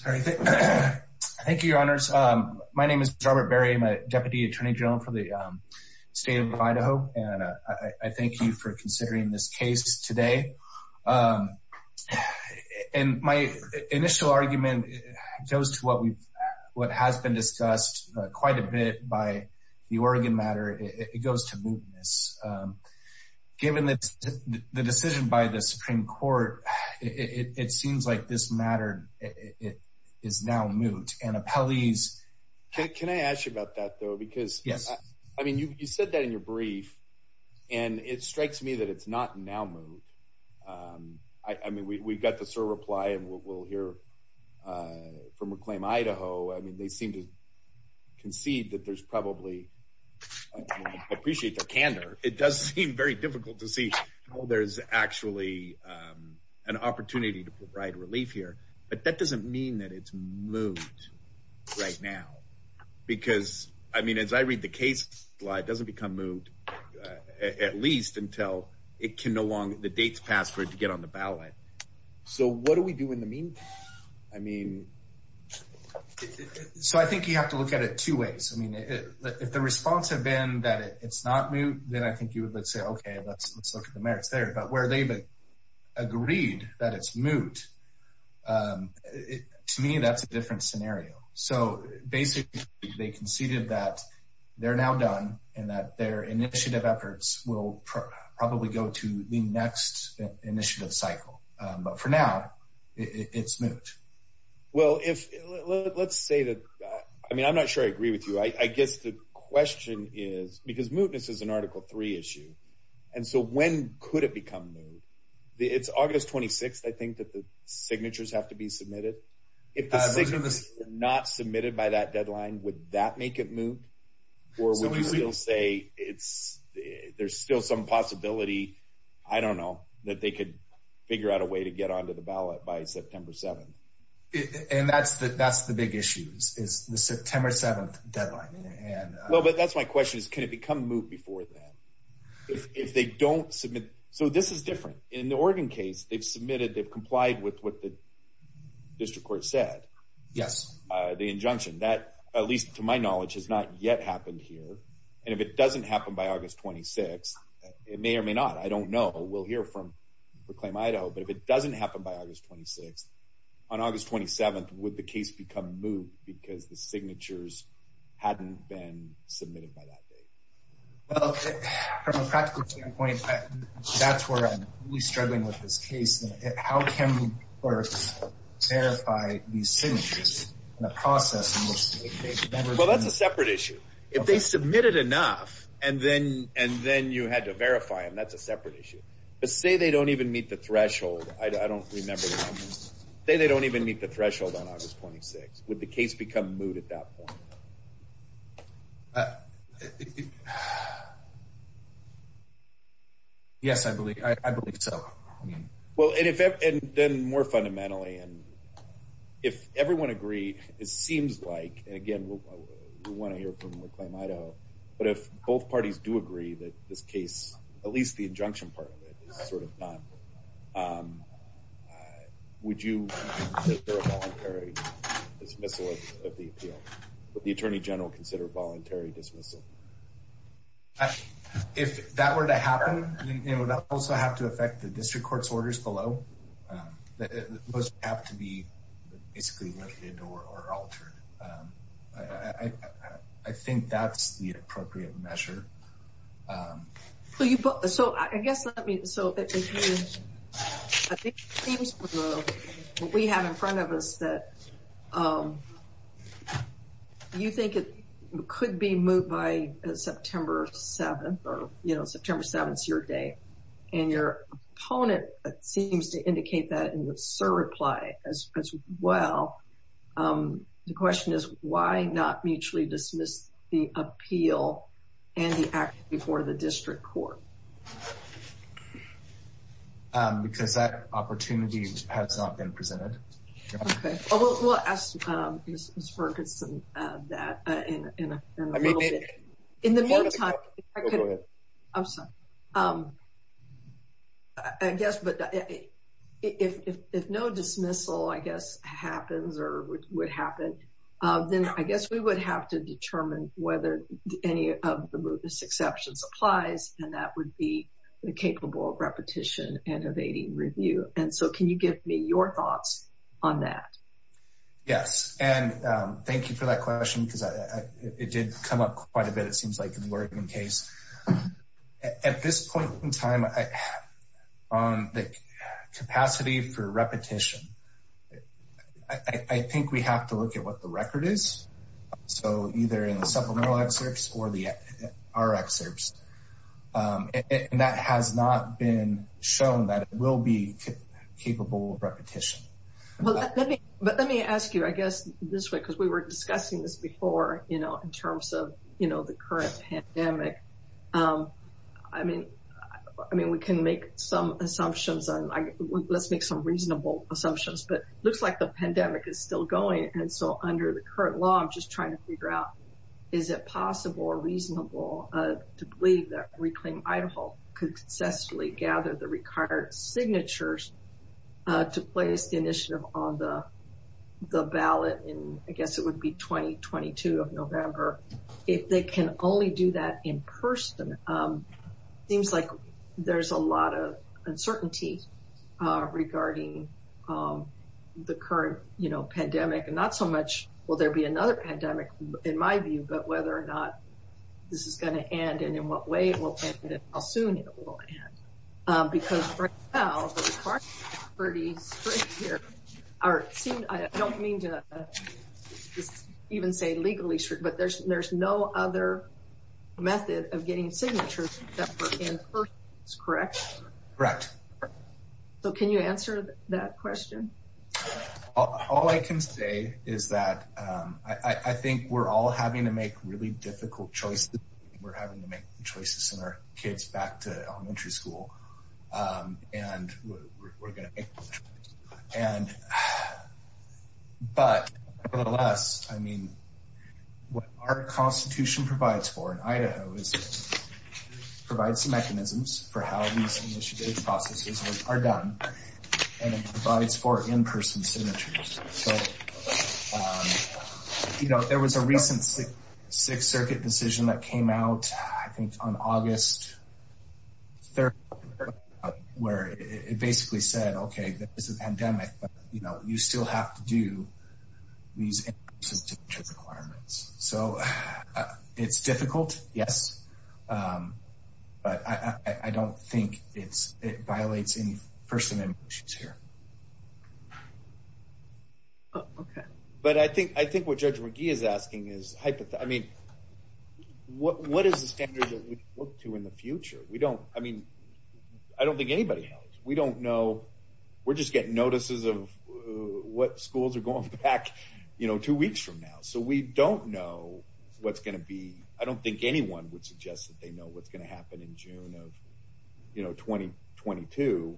Thank you, Your Honors. My name is Robert Berry. I'm a Deputy Attorney General for the state of Idaho, and I thank you for considering this case today. And my initial argument goes to what has been discussed quite a bit by the Oregon matter. It goes to mootness. Given the decision by the Supreme Court, it seems like this matter is now moot. And appellees... Can I ask you about that, though? Because you said that in your brief, and it strikes me that it's not now moot. I mean, we've got the SIR reply, and we'll hear from Reclaim Idaho. I mean, they seem to concede that there's probably... I appreciate their candor. It does seem very difficult to see how there's actually an opportunity to provide relief here. But that doesn't mean that it's moot right now. Because, I mean, as I read the case slide, it doesn't become moot, at least until the date's passed for it to get on the ballot. So what do we do in the meantime? I mean... So I think you have to look at it two ways. I mean, if the response had been that it's not moot, then I think you would say, okay, let's look at the merits there. But where they've agreed that it's moot, to me, that's a different scenario. So basically, they conceded that they're now done, and that their initiative efforts will probably go to the next initiative cycle. But for now, it's moot. Well, if... Let's say that... I mean, I'm not sure I agree with you. I guess the question is... Because mootness is an Article III issue. And so when could it become moot? It's August 26th, I think, that the signatures have to be submitted. If the signatures are not submitted by that deadline, would that make it moot? Or would you still say there's still some possibility, I don't know, that they could figure out a way to get onto the ballot by September 7th? And that's the big issue, is the September 7th deadline. Well, but that's my question, is can it become moot before then? If they don't submit... So this is different. In the Oregon case, they've complied with what the district court said. Yes. The injunction. That, at least to my knowledge, has not yet happened here. And if it doesn't happen by August 26th, it may or may not. I don't know. We'll hear from Proclaim Idaho. But if it doesn't happen by August 26th, on August 27th, would the case become moot because the signatures hadn't been submitted by that date? Well, from a practical standpoint, that's really struggling with this case. How can we verify these signatures in a process in which they've never been... Well, that's a separate issue. If they submitted enough, and then you had to verify them, that's a separate issue. But say they don't even meet the threshold. I don't remember. Say they don't even meet the threshold on August 26th. Would the case become moot at that point? Yes, I believe so. Well, and then more fundamentally, if everyone agreed, it seems like, and again, we want to hear from Proclaim Idaho, but if both parties do agree that this case, at least the injunction part of it, is sort of done, would you consider a voluntary dismissal of the appeal? Would the Attorney General consider a voluntary dismissal? If that were to happen, it would also have to affect the district court's orders below. Those would have to be basically lifted or altered. I think that's the appropriate measure. So, I guess let me... So, it seems from what we have in front of us that you think it could be moot by September 7th, or, you know, September 7th's your day, and your opponent seems to indicate that in the SIR reply as well. The question is, why not mutually dismiss the act before the district court? Because that opportunity has not been presented. Okay. We'll ask Ms. Ferguson that in a little bit. I mean, it... In the meantime, if I could... Go ahead. I'm sorry. I guess, but if no dismissal, I guess, happens or would happen, then I guess we would have to determine whether any of the mootness exceptions applies, and that would be the capable repetition and evading review. And so, can you give me your thoughts on that? Yes, and thank you for that question, because it did come up quite a bit, it seems like, in the Oregon case. At this point in time, on the capacity for repetition, I think we have to look at what the record is. So, either in the supplemental excerpts or the R excerpts. And that has not been shown that it will be capable of repetition. Well, let me ask you, I guess, this way, because we were discussing this before, you know, in terms of, you know, the current pandemic. I mean, we can make some assumptions, and let's make some assumptions. But it looks like the pandemic is still going. And so, under the current law, I'm just trying to figure out, is it possible or reasonable to believe that Reclaim Idaho could successfully gather the required signatures to place the initiative on the ballot in, I guess, it would be 2022 of November. If they can only do that in person, it seems like there's a lot of the current, you know, pandemic. And not so much, will there be another pandemic, in my view, but whether or not this is going to end, and in what way it will end, and how soon it will end. Because right now, the requirements are pretty strict here. I don't mean to even say legally strict, but there's no other method of getting signatures that were in person, is correct? Correct. So, can you answer that question? All I can say is that I think we're all having to make really difficult choices. We're having to make choices in our kids back to elementary school, and we're going to make those choices. But, nevertheless, I mean, what our constitution provides for in Idaho is it provides some mechanisms for how these initiative processes are done, and it provides for in-person signatures. So, you know, there was a recent Sixth Circuit decision that came out, I think, on August 3rd, where it basically said, okay, there is a pandemic, but, you know, you still have to do in-person signature requirements. So, it's difficult, yes, but I don't think it violates any first amendment issues here. Okay. But I think what Judge McGee is asking is, I mean, what is the standard that we look to in the future? We don't, I mean, I don't think anybody we don't know. We're just getting notices of what schools are going back, you know, two weeks from now. So, we don't know what's going to be, I don't think anyone would suggest that they know what's going to happen in June of, you know, 2022.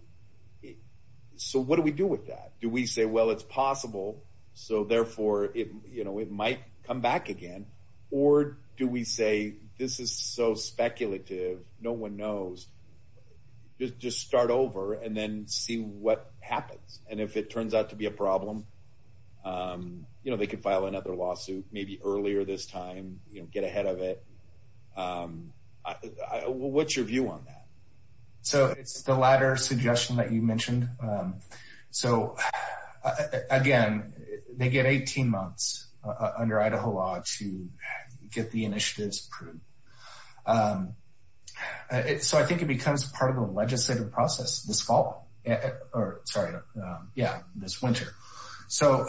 So, what do we do with that? Do we say, well, it's possible, so, therefore, it, you know, it might come back again, or do we say this is so and then see what happens? And if it turns out to be a problem, you know, they could file another lawsuit, maybe earlier this time, you know, get ahead of it. What's your view on that? So, it's the latter suggestion that you mentioned. So, again, they get 18 months under Idaho law to get the initiatives approved. And so, I think it becomes part of the legislative process this fall, or sorry, yeah, this winter. So,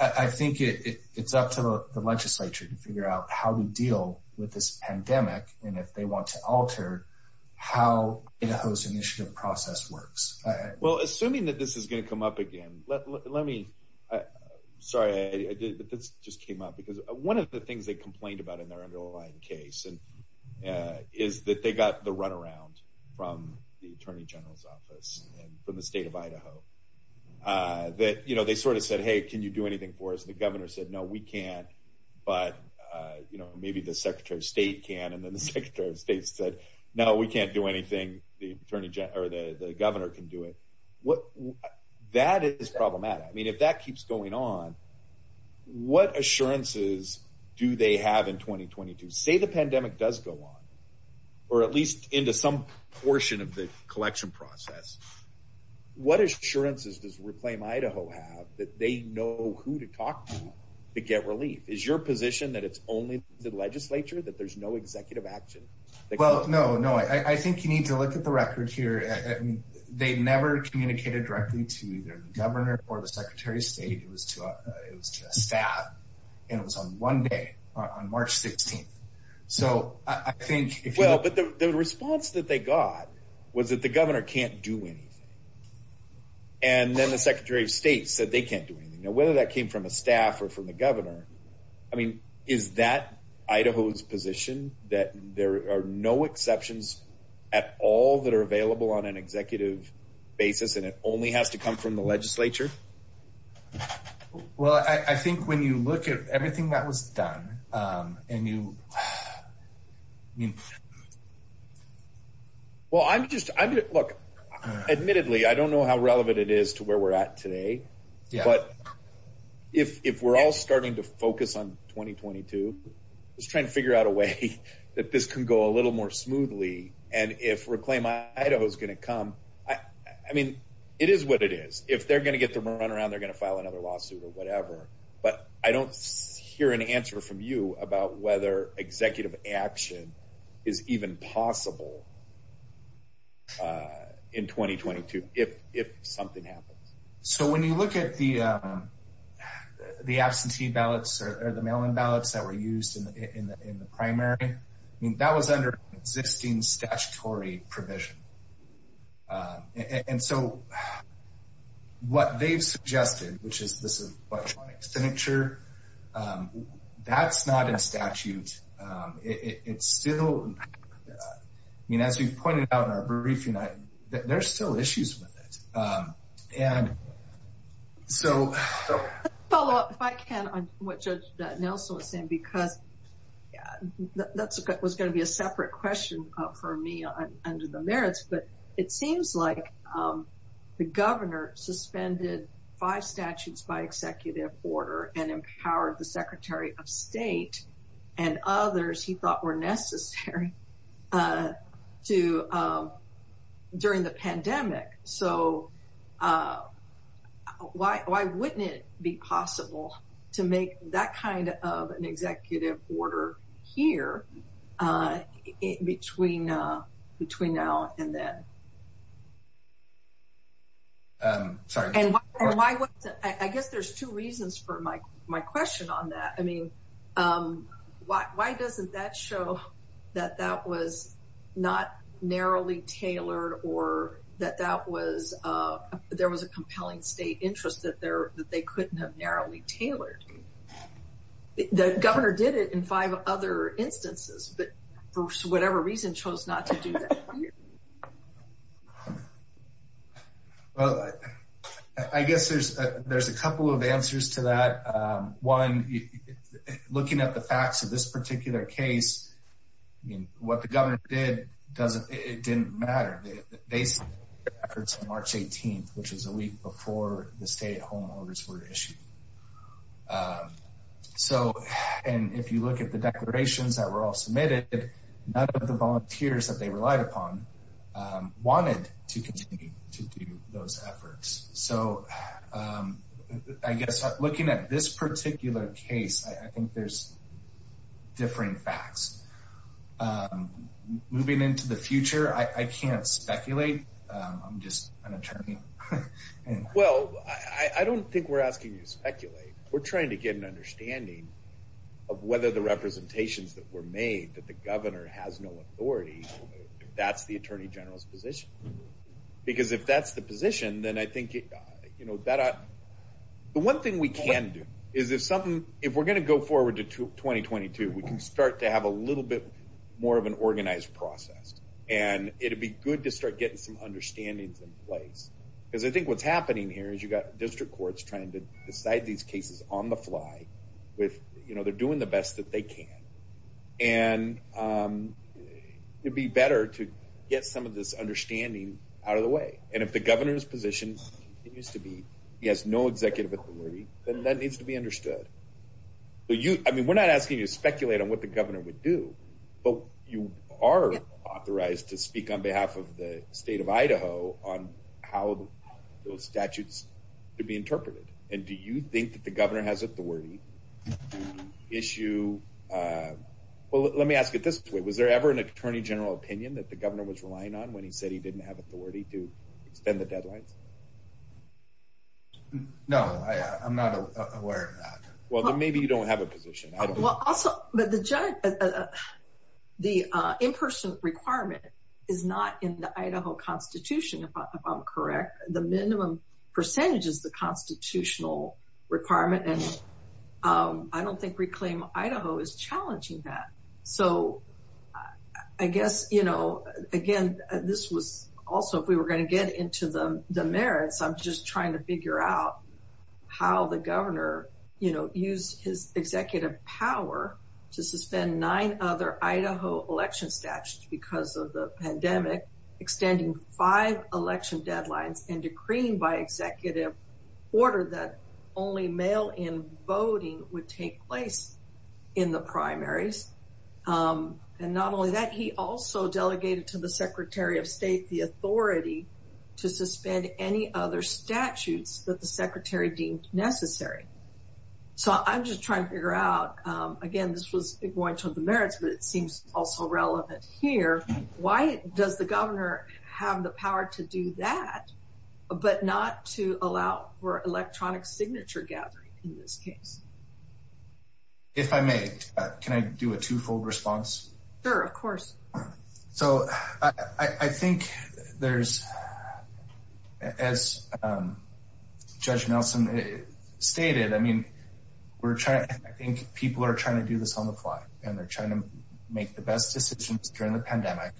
I think it's up to the legislature to figure out how to deal with this pandemic and if they want to alter how Idaho's initiative process works. Well, assuming that this is going to come up again, let me, sorry, I did, but this just came up because one of the things they complained about in their underlying case is that they got the runaround from the Attorney General's office and from the state of Idaho. That, you know, they sort of said, hey, can you do anything for us? And the governor said, no, we can't, but, you know, maybe the Secretary of State can. And then the Secretary of State said, no, we can't do anything, the Attorney General, or the governor can do it. What, that is problematic. I mean, if that keeps going on, what assurances do they have in 2022? Say the pandemic does go on, or at least into some portion of the collection process, what assurances does Reclaim Idaho have that they know who to talk to to get relief? Is your position that it's only the legislature, that there's no executive action? Well, no, no, I think you need to look at the records here. They never communicated directly to either the governor or the Secretary of State. It was to a staff, and it was on one day, on March 16th. So I think if you look- Well, but the response that they got was that the governor can't do anything. And then the Secretary of State said they can't do anything. Now, whether that came from a staff or from the governor, I mean, is that Idaho's position, that there are no exceptions at all that are available on an executive basis, and it only has to come from the legislature? Well, I think when you look at everything that was done, and you, I mean- Well, I'm just, look, admittedly, I don't know how relevant it is to where we're at today, but if we're all starting to focus on 2022, I'm just trying to figure out a way that this can go a little more smoothly. And if Reclaim Idaho's going to come, I mean, it is what it is. If they're going to get their run around, they're going to file another lawsuit or whatever. But I don't hear an answer from you about whether executive action is even possible in 2022, if something happens. So when you look at the absentee ballots or the mail-in ballots that were used in the primary, I mean, that was under existing statutory provision. And so what they've suggested, which is this electronic signature, that's not in statute. It's still, I mean, as we've pointed out in our briefing, there's still issues with it. And so- Let's follow up, if I can, on what Judge Nelson was saying, because that was going to be a separate question for me under the merits, but it seems like the governor suspended five statutes by executive order and empowered the Secretary of State and others he thought were necessary during the pandemic. So why wouldn't it be possible to make that kind of an executive order here between now and then? Sorry. And why wasn't- I guess there's two reasons for my question on that. I mean, why doesn't that show that that was not narrowly tailored or that there was a compelling state interest that they couldn't have narrowly tailored? The governor did it in five other instances, but for whatever reason, chose not to do that. Well, I guess there's a couple of answers to that. One, looking at the facts of this particular case, I mean, what the governor did, it didn't matter. They submitted their efforts on March 18th, which is a week before the stay-at-home orders were issued. So, and if you look at the declarations that were all submitted, none of the volunteers that they relied upon wanted to continue to do those efforts. So, I guess looking at this particular case, I think there's differing facts. Moving into the future, I can't speculate. I'm just an attorney. Well, I don't think we're asking you to speculate. We're trying to get an understanding of whether the representations that were made that the governor has no authority, if that's the attorney general's position. Because if that's the position, then I think, the one thing we can do is if we're going to go forward to 2022, we can start to have a little bit more of an organized process. And it'd be good to start getting some understandings in place. Because I think what's happening here is you've got district courts trying to decide these cases on the fly with, you know, they're doing the best that they can. And it'd be better to get some of this understanding out of the way. And if the governor's position continues to be, he has no executive authority, then that needs to be understood. I mean, we're not asking you to speculate on what the governor would do. But you are authorized to speak on behalf of the state of Idaho on how those statutes could be interpreted. And do you think that the governor has authority to issue? Well, let me ask it this way. Was there ever an attorney general opinion that the governor was relying on when he said he didn't have authority to extend the deadlines? No, I'm not aware of that. Well, then maybe you don't have a position. Well, also, the in-person requirement is not in the Idaho Constitution, if I'm correct. The minimum percentage is the constitutional requirement. And I don't think Reclaim Idaho is challenging that. So I guess, you know, again, this was also, if we were going to get into the merits, I'm just trying to figure out how the governor, you know, used his executive power to suspend nine other Idaho election statutes because of the pandemic, extending five election deadlines and decreeing by executive order that only mail-in voting would take place in the primaries. And not only that, he also delegated to the secretary of state the authority to suspend any other statutes that the secretary deemed necessary. So I'm just trying to figure out, again, this was going to the merits, but it seems also relevant here. Why does the governor have the power to do that, but not to allow for electronic signature gathering in this case? If I may, can I do a two-fold response? Sure, of course. So I think there's, as Judge Nelson stated, I mean, we're trying, I think people are trying to do this on the fly and they're trying to make the best decisions during the pandemic.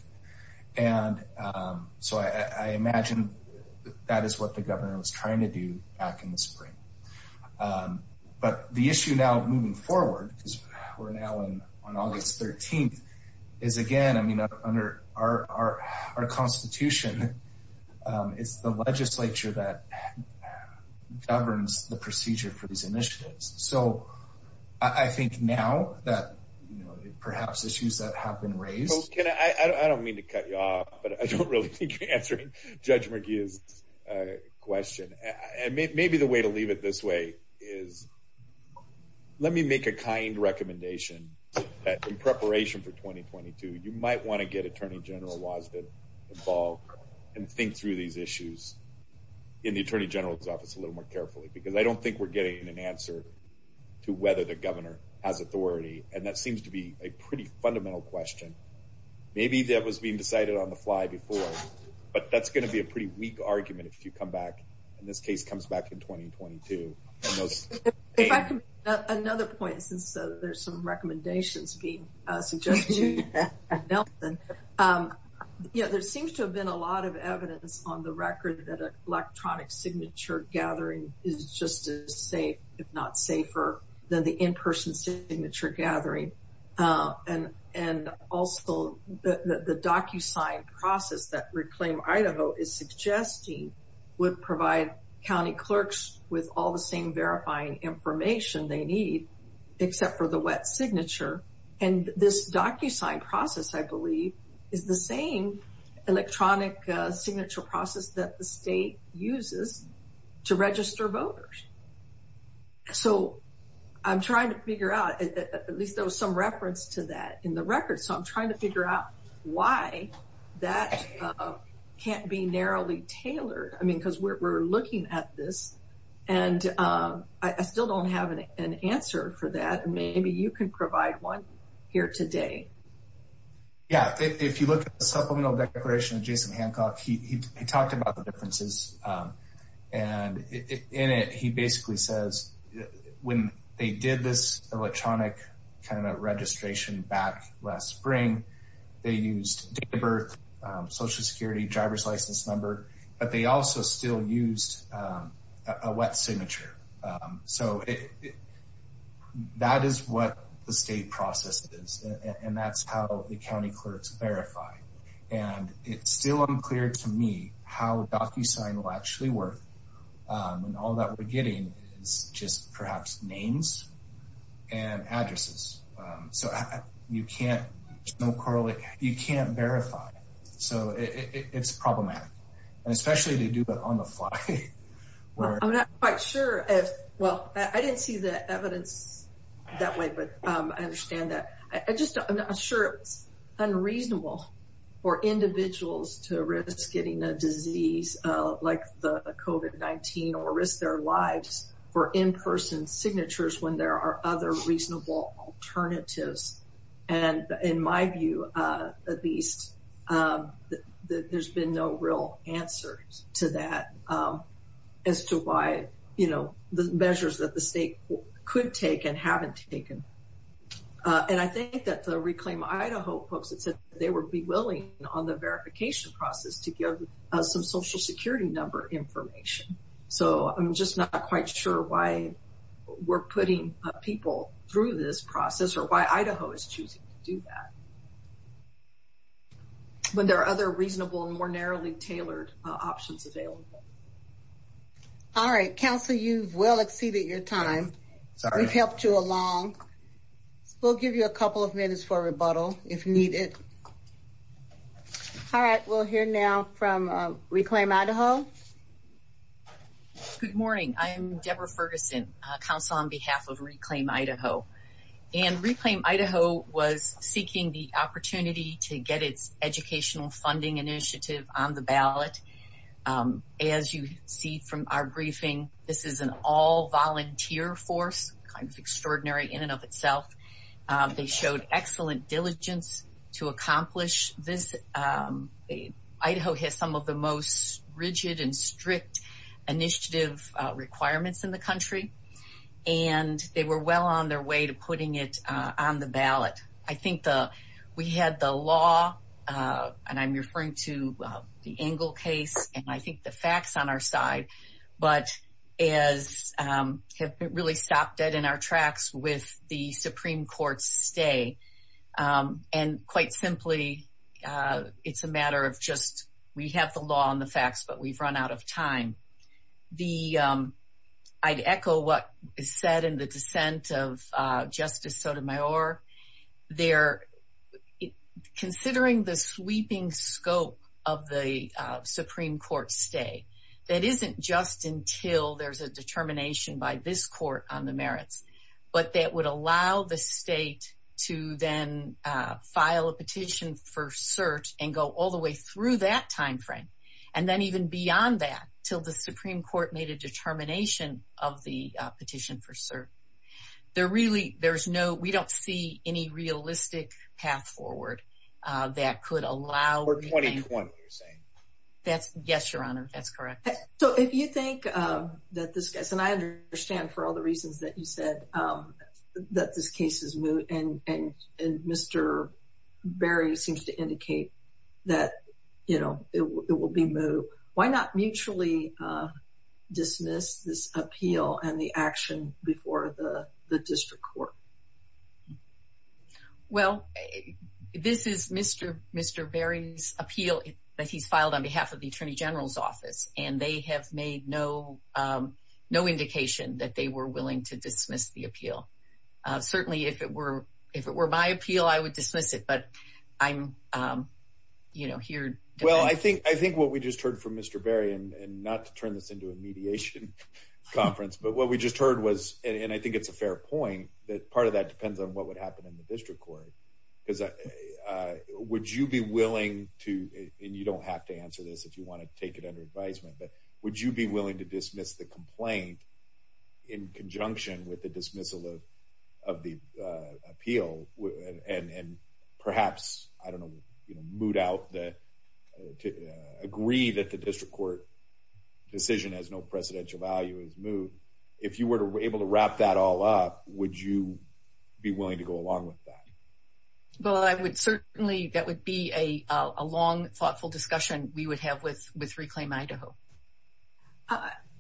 And so I imagine that is what the governor was trying to do back in the spring. But the issue now moving forward, because we're now on August 13th, is again, I mean, under our constitution, it's the legislature that governs the procedure for these initiatives. So I think now that, you know, perhaps issues that have been raised... Well, Ken, I don't mean to cut you off, but I don't really think you're answering Judge McGee's question. And maybe the way to leave it this way is let me make a kind recommendation that in preparation for 2022, you might want to get Attorney General Wosden involved and think through these issues in the Attorney General's office a little more carefully, because I don't think we're getting an answer to whether the governor has authority. And that seems to be a pretty fundamental question. Maybe that was being decided on the fly before, but that's going to be a pretty weak argument if you come back, and this case comes back in 2022. If I can make another point, since there's some recommendations being suggested to me by Nelson. Yeah, there seems to have been a lot of evidence on the record that electronic signature gathering is just as safe, if not safer, than the in-person signature gathering. And also, the DocuSign process that Reclaim Idaho is suggesting would provide county clerks with all the same verifying information they need, except for the wet signature. And this DocuSign process, I believe, is the same electronic signature process that the state uses to register voters. So I'm trying to figure out, at least there was some reference to that in the record, so I'm trying to figure out why that can't be narrowly tailored. I mean, we're looking at this, and I still don't have an answer for that. Maybe you can provide one here today. Yeah, if you look at the supplemental declaration of Jason Hancock, he talked about the differences. And in it, he basically says when they did this electronic registration back last but they also still used a wet signature. So that is what the state process is, and that's how the county clerks verify. And it's still unclear to me how DocuSign will actually work, and all that we're getting is just perhaps names and addresses. So you can't verify. So it's problematic. Especially to do it on the fly. I'm not quite sure. Well, I didn't see the evidence that way, but I understand that. I'm just not sure it's unreasonable for individuals to risk getting a disease like COVID-19 or risk their lives for in-person signatures when there are other reasonable alternatives. And in my view, at least, there's been no real answer to that as to why, you know, the measures that the state could take and haven't taken. And I think that the Reclaim Idaho folks said they would be willing on the verification process to give some Social Security number information. So I'm just not quite sure why we're putting people through this process or why Idaho is choosing to do that. When there are other reasonable and more narrowly tailored options available. All right. Counselor, you've well exceeded your time. We've helped you along. We'll give you a couple of minutes for rebuttal if needed. All right. We'll hear now from Reclaim Idaho. Good morning. I'm Deborah Ferguson, Counselor on behalf of Reclaim Idaho. And Reclaim Idaho was seeking the opportunity to get its educational funding initiative on the ballot. As you see from our briefing, this is an all-volunteer force, kind of extraordinary in and of itself. They showed excellent diligence to accomplish this. Idaho has some of the most rigid and strict initiative requirements in the country. And they were well on their way to putting it on the ballot. I think we had the law, and I'm referring to the Engel case, and I think the facts on our side. But as it really stopped dead in our tracks with the Supreme Court's stay. And quite simply, it's a matter of just, we have the law and the facts, but we've run out of time. I'd echo what is said in the dissent of Justice Sotomayor. Considering the sweeping scope of the Supreme Court stay, that isn't just until there's a file a petition for cert, and go all the way through that time frame. And then even beyond that, until the Supreme Court made a determination of the petition for cert. We don't see any realistic path forward that could allow... Or 2020, you're saying. Yes, Your Honor, that's correct. So if you think that this case, and I understand for all the reasons that you said, that this case is moot, and Mr. Berry seems to indicate that it will be moot, why not mutually dismiss this appeal and the action before the district court? Well, this is Mr. Berry's appeal that he's filed on behalf of the Attorney General's office, and they have made no indication that they were willing to dismiss the appeal. Certainly, if it were my appeal, I would dismiss it, but I'm here... Well, I think what we just heard from Mr. Berry, and not to turn this into a mediation conference, but what we just heard was, and I think it's a fair point, that part of that depends on what would happen in the district court. Would you be willing to, and you don't have to answer this if you want to take it under advisement, but would you be willing to dismiss the complaint in conjunction with the dismissal of the appeal? And perhaps, I don't know, moot out the... Agree that the district court decision has no precedential value as moot. If you were able to wrap that all up, would you be willing to go along with that? Well, I would certainly... That would be a long, thoughtful discussion we would have with Reclaim Idaho.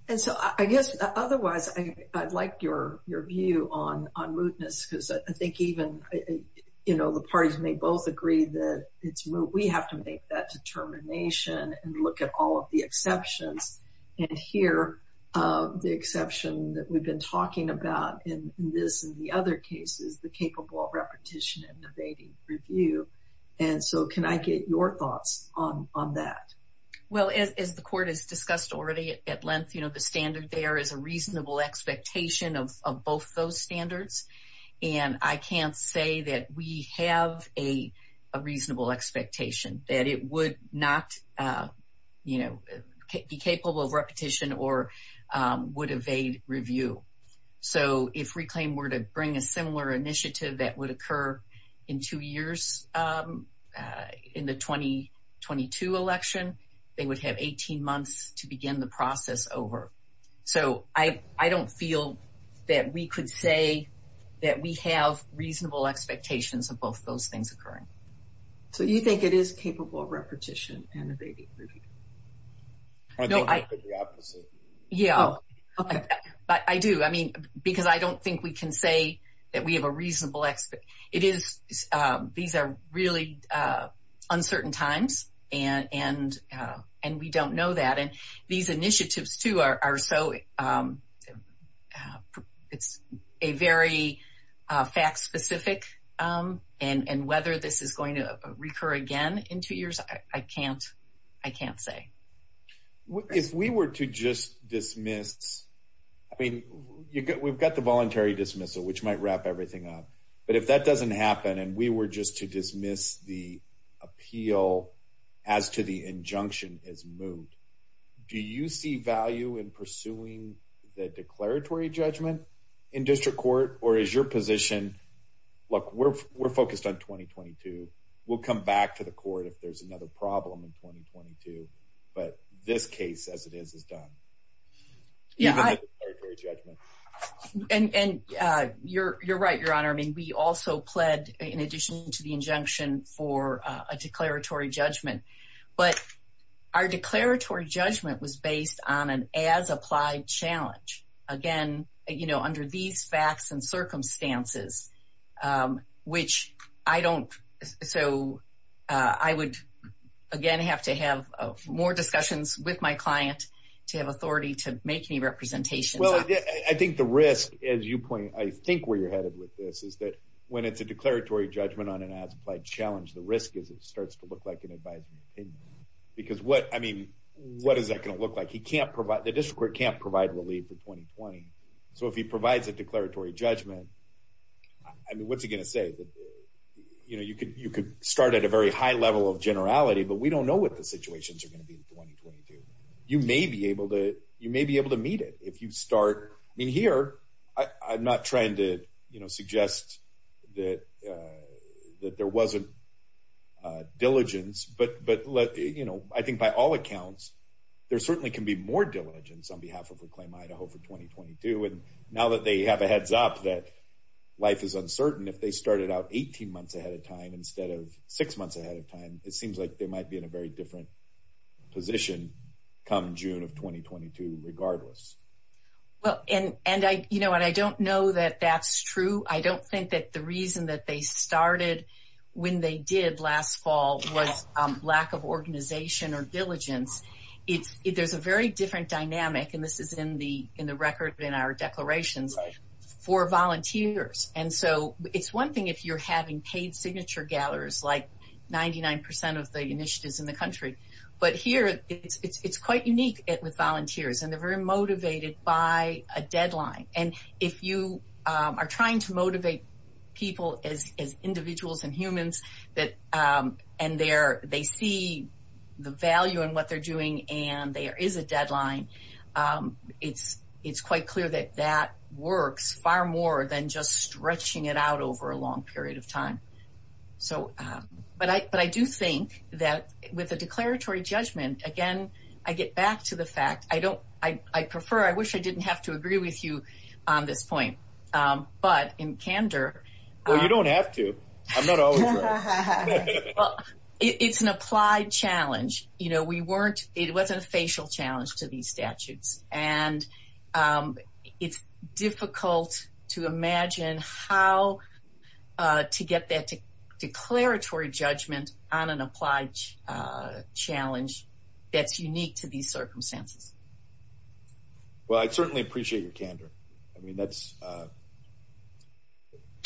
And so, I guess, otherwise, I'd like your view on mootness, because I think even the parties may both agree that it's moot. We have to make that determination and look at all of the exceptions, and here, the exception that we've been talking about in this and the other cases, the capable of repetition and evading review. And so, can I get your thoughts on that? Well, as the court has discussed already at length, the standard there is a reasonable expectation of both those standards. And I can't say that we have a reasonable expectation, that it would not be capable of repetition or would evade review. So, if Reclaim were to bring a similar initiative that would occur in two years in the 2022 election, they would have 18 months to begin the process over. So, I don't feel that we could say that we have reasonable expectations of both those things occurring. So, you think it is capable of repetition and evading review? I don't think it's the opposite. Yeah. But I do. I mean, because I don't think we can say that we have a reasonable expectation. It is. These are really uncertain times, and we don't know that. And these initiatives, too, are so, it's very fact-specific. And whether this is going to recur again in two years, I can't say. Well, if we were to just dismiss, I mean, we've got the voluntary dismissal, which might wrap everything up. But if that doesn't happen, and we were just to dismiss the appeal as to the injunction is moved, do you see value in pursuing the declaratory judgment in district court? Or is your position, look, we're focused on 2022. We'll come back to the but this case as it is, is done. Yeah. And you're right, Your Honor. I mean, we also pled in addition to the injunction for a declaratory judgment. But our declaratory judgment was based on an as-applied challenge. Again, you know, under these facts and circumstances, which I don't, so I would, again, have to have more discussions with my client to have authority to make any representations. Well, I think the risk, as you point, I think where you're headed with this is that when it's a declaratory judgment on an as-applied challenge, the risk is it starts to look like an advisory opinion. Because what, I mean, what is that going to look like? He can't provide, the district court can't provide relief for 2020. So if he provides a declaratory judgment, I mean, what's he going to say? You know, you could start at a very high level of generality, but we don't know what the situations are going to be in 2022. You may be able to meet it if you start, I mean, here, I'm not trying to, you know, suggest that there wasn't diligence, but let, you know, I think by all accounts, there certainly can be more diligence on behalf of Reclaim Idaho for 2022. And now that they have a heads up that life is uncertain, if they started out 18 months ahead of time instead of six months ahead of time, it seems like they might be in a very different position come June of 2022 regardless. Well, and I, you know, and I don't know that that's true. I don't think that the reason that they started when they did last fall was lack of organization or diligence. It's, there's a very different dynamic and this is in the record in our declarations for volunteers. And so it's one thing if you're having paid signature gatherers, like 99% of the initiatives in the country, but here it's quite unique with volunteers and they're very motivated by a deadline. And if you are trying to motivate people as individuals and humans that, and they're, they see the value in what they're doing and there is a deadline, it's quite clear that that works far more than just stretching it out over a long period of time. So, but I do think that with a declaratory judgment, again, I get back to the fact, I don't, I prefer, I wish I didn't have to agree with you on this point, but in candor. Well, you don't have to. I'm not always right. It's an applied challenge. You know, we weren't, it wasn't a facial challenge to these statutes and it's difficult to imagine how to get that declaratory judgment on an applied challenge that's unique to these circumstances. Well, I certainly appreciate your candor. I mean, that's, uh,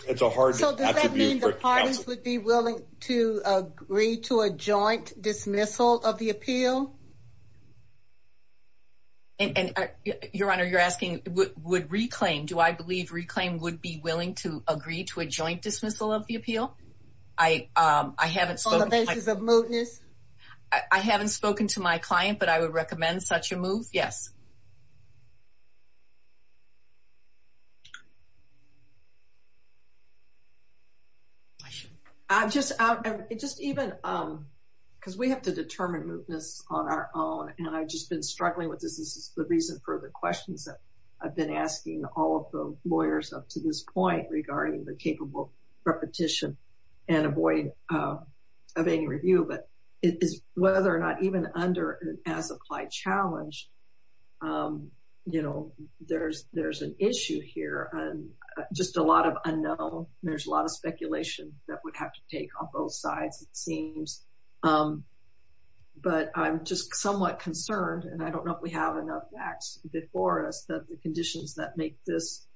it's a hard. So does that mean the parties would be willing to agree to a joint dismissal of the appeal? And your honor, you're asking would reclaim, do I believe reclaim would be willing to agree to a joint dismissal of the appeal? I, um, I haven't spoken to my client, but I would such a move. Yes. I just, I just even, um, cause we have to determine movements on our own and I've just been struggling with this. This is the reason for the questions that I've been asking all of the lawyers up to this point regarding the capable repetition and avoid, um, of any review, but it is whether or not even under as applied challenge, um, you know, there's, there's an issue here on just a lot of unknown. There's a lot of speculation that would have to take on both sides, it seems. Um, but I'm just somewhat concerned and I don't know if we have enough facts before us that the conditions that make this,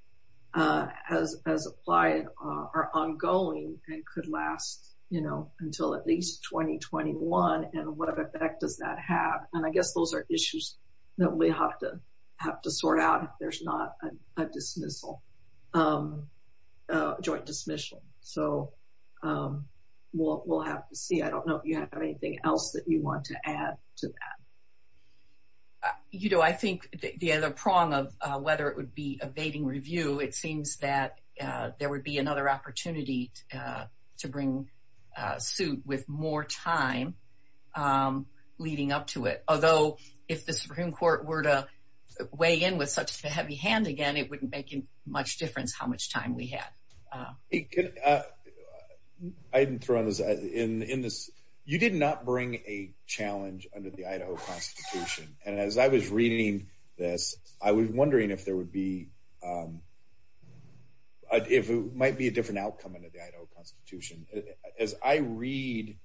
uh, as, as applied are ongoing and could last, you know, until at least 2021. And what effect does that have? And I guess those are issues that we have to have to sort out if there's not a dismissal, um, uh, joint dismissal. So, um, we'll, we'll have to see. I don't know if you have anything else that you want to add to that. You know, I think the other prong of, uh, whether it would be evading review, it seems that, uh, there would be another opportunity, uh, to bring a suit with more time, um, leading up to it. Although if the Supreme court were to weigh in with such a heavy hand again, it wouldn't make much difference how much time we had. Uh, I didn't throw on this in, in this, you did not bring a challenge under the Idaho constitution. And as I was reading this, I was wondering if there would be, um, uh, if it might be a different outcome under the Idaho constitution, as I read,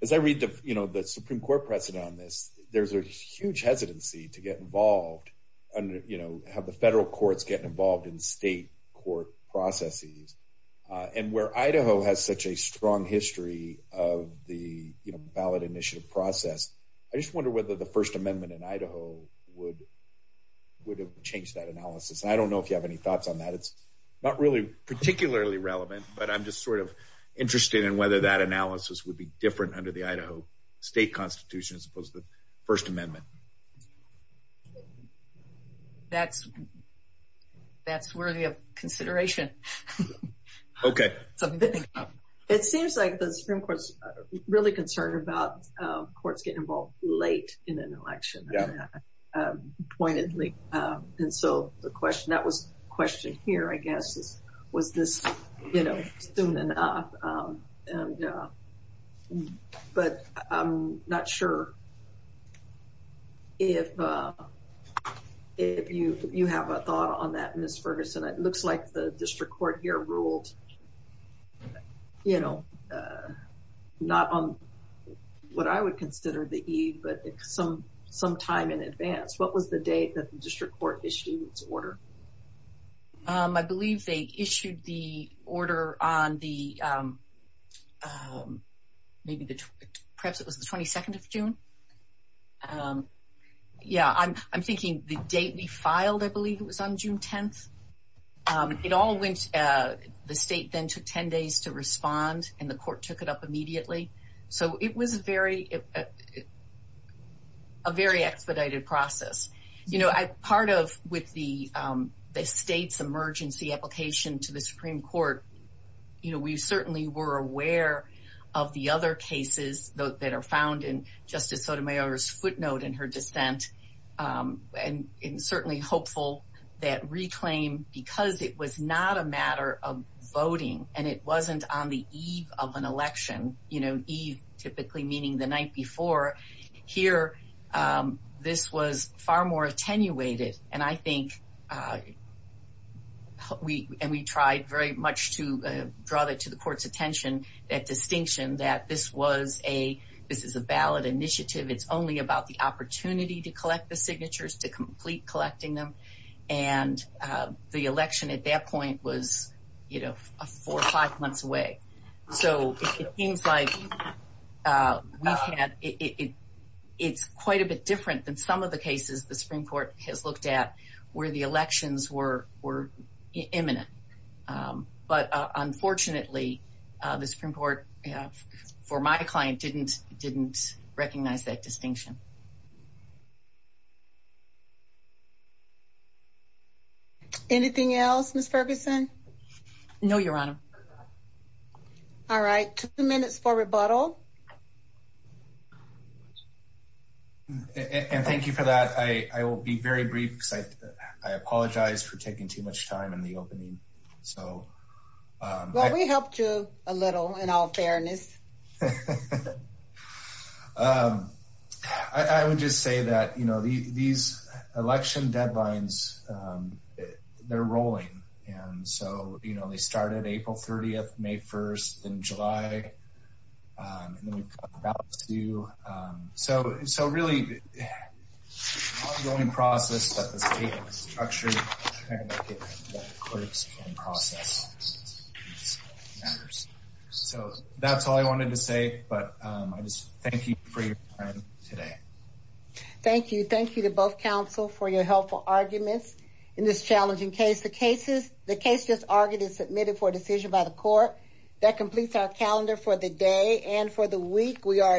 as I read the, you know, the Supreme court precedent on this, there's a huge hesitancy to get involved under, you know, have the federal courts getting involved in state court processes, uh, and where Idaho has such a strong history of the ballot initiative process. I just wonder whether the first amendment in Idaho would, would have changed that analysis. And I don't know if you have any thoughts on that. It's not really particularly relevant, but I'm just sort of interested in whether that analysis would be different under the Idaho state constitution, as opposed to the first amendment. That's that's worthy of courts getting involved late in an election pointedly. Um, and so the question that was questioned here, I guess, was this, you know, soon enough. Um, and, uh, but I'm not sure if, uh, if you, you have a thought on that, Ms. Ferguson, it looks like the district court here ruled, you know, uh, not on what I would consider the E, but some, some time in advance, what was the date that the district court issued its order? Um, I believe they issued the order on the, um, um, maybe the, perhaps it was the 22nd of June. Um, yeah, I'm, I'm thinking the date we state then took 10 days to respond and the court took it up immediately. So it was very, a very expedited process. You know, I, part of with the, um, the state's emergency application to the Supreme court, you know, we certainly were aware of the other cases that are found in justice Sotomayor's footnote in her dissent. Um, and it was certainly hopeful that reclaim because it was not a matter of voting and it wasn't on the Eve of an election, you know, Eve typically meaning the night before here, um, this was far more attenuated. And I think, uh, we, and we tried very much to, uh, draw that to the court's attention, that distinction that this was a, this is a ballot initiative. It's only about the opportunity to collect the signatures to complete collecting them. And, uh, the election at that point was, you know, four or five months away. So it seems like, uh, we've had, it, it, it's quite a bit different than some of the cases. The Supreme court has looked at where the elections were, were imminent. Um, but, uh, unfortunately, uh, the Supreme court for my client didn't, didn't recognize that distinction. Anything else, Ms. Ferguson? No, Your Honor. All right. Two minutes for rebuttal. And thank you for that. I, I will be very brief. I apologize for taking too much time in the um, I, I would just say that, you know, the, these election deadlines, um, they're rolling. And so, you know, they started April 30th, May 1st, then July. Um, and then we've got about two, um, so, so really the ongoing process that the state has Thank you for your time today. Thank you. Thank you to both counsel for your helpful arguments in this challenging case. The cases, the case just argued is submitted for decision by the court that completes our calendar for the day. And for the week we are adjourned.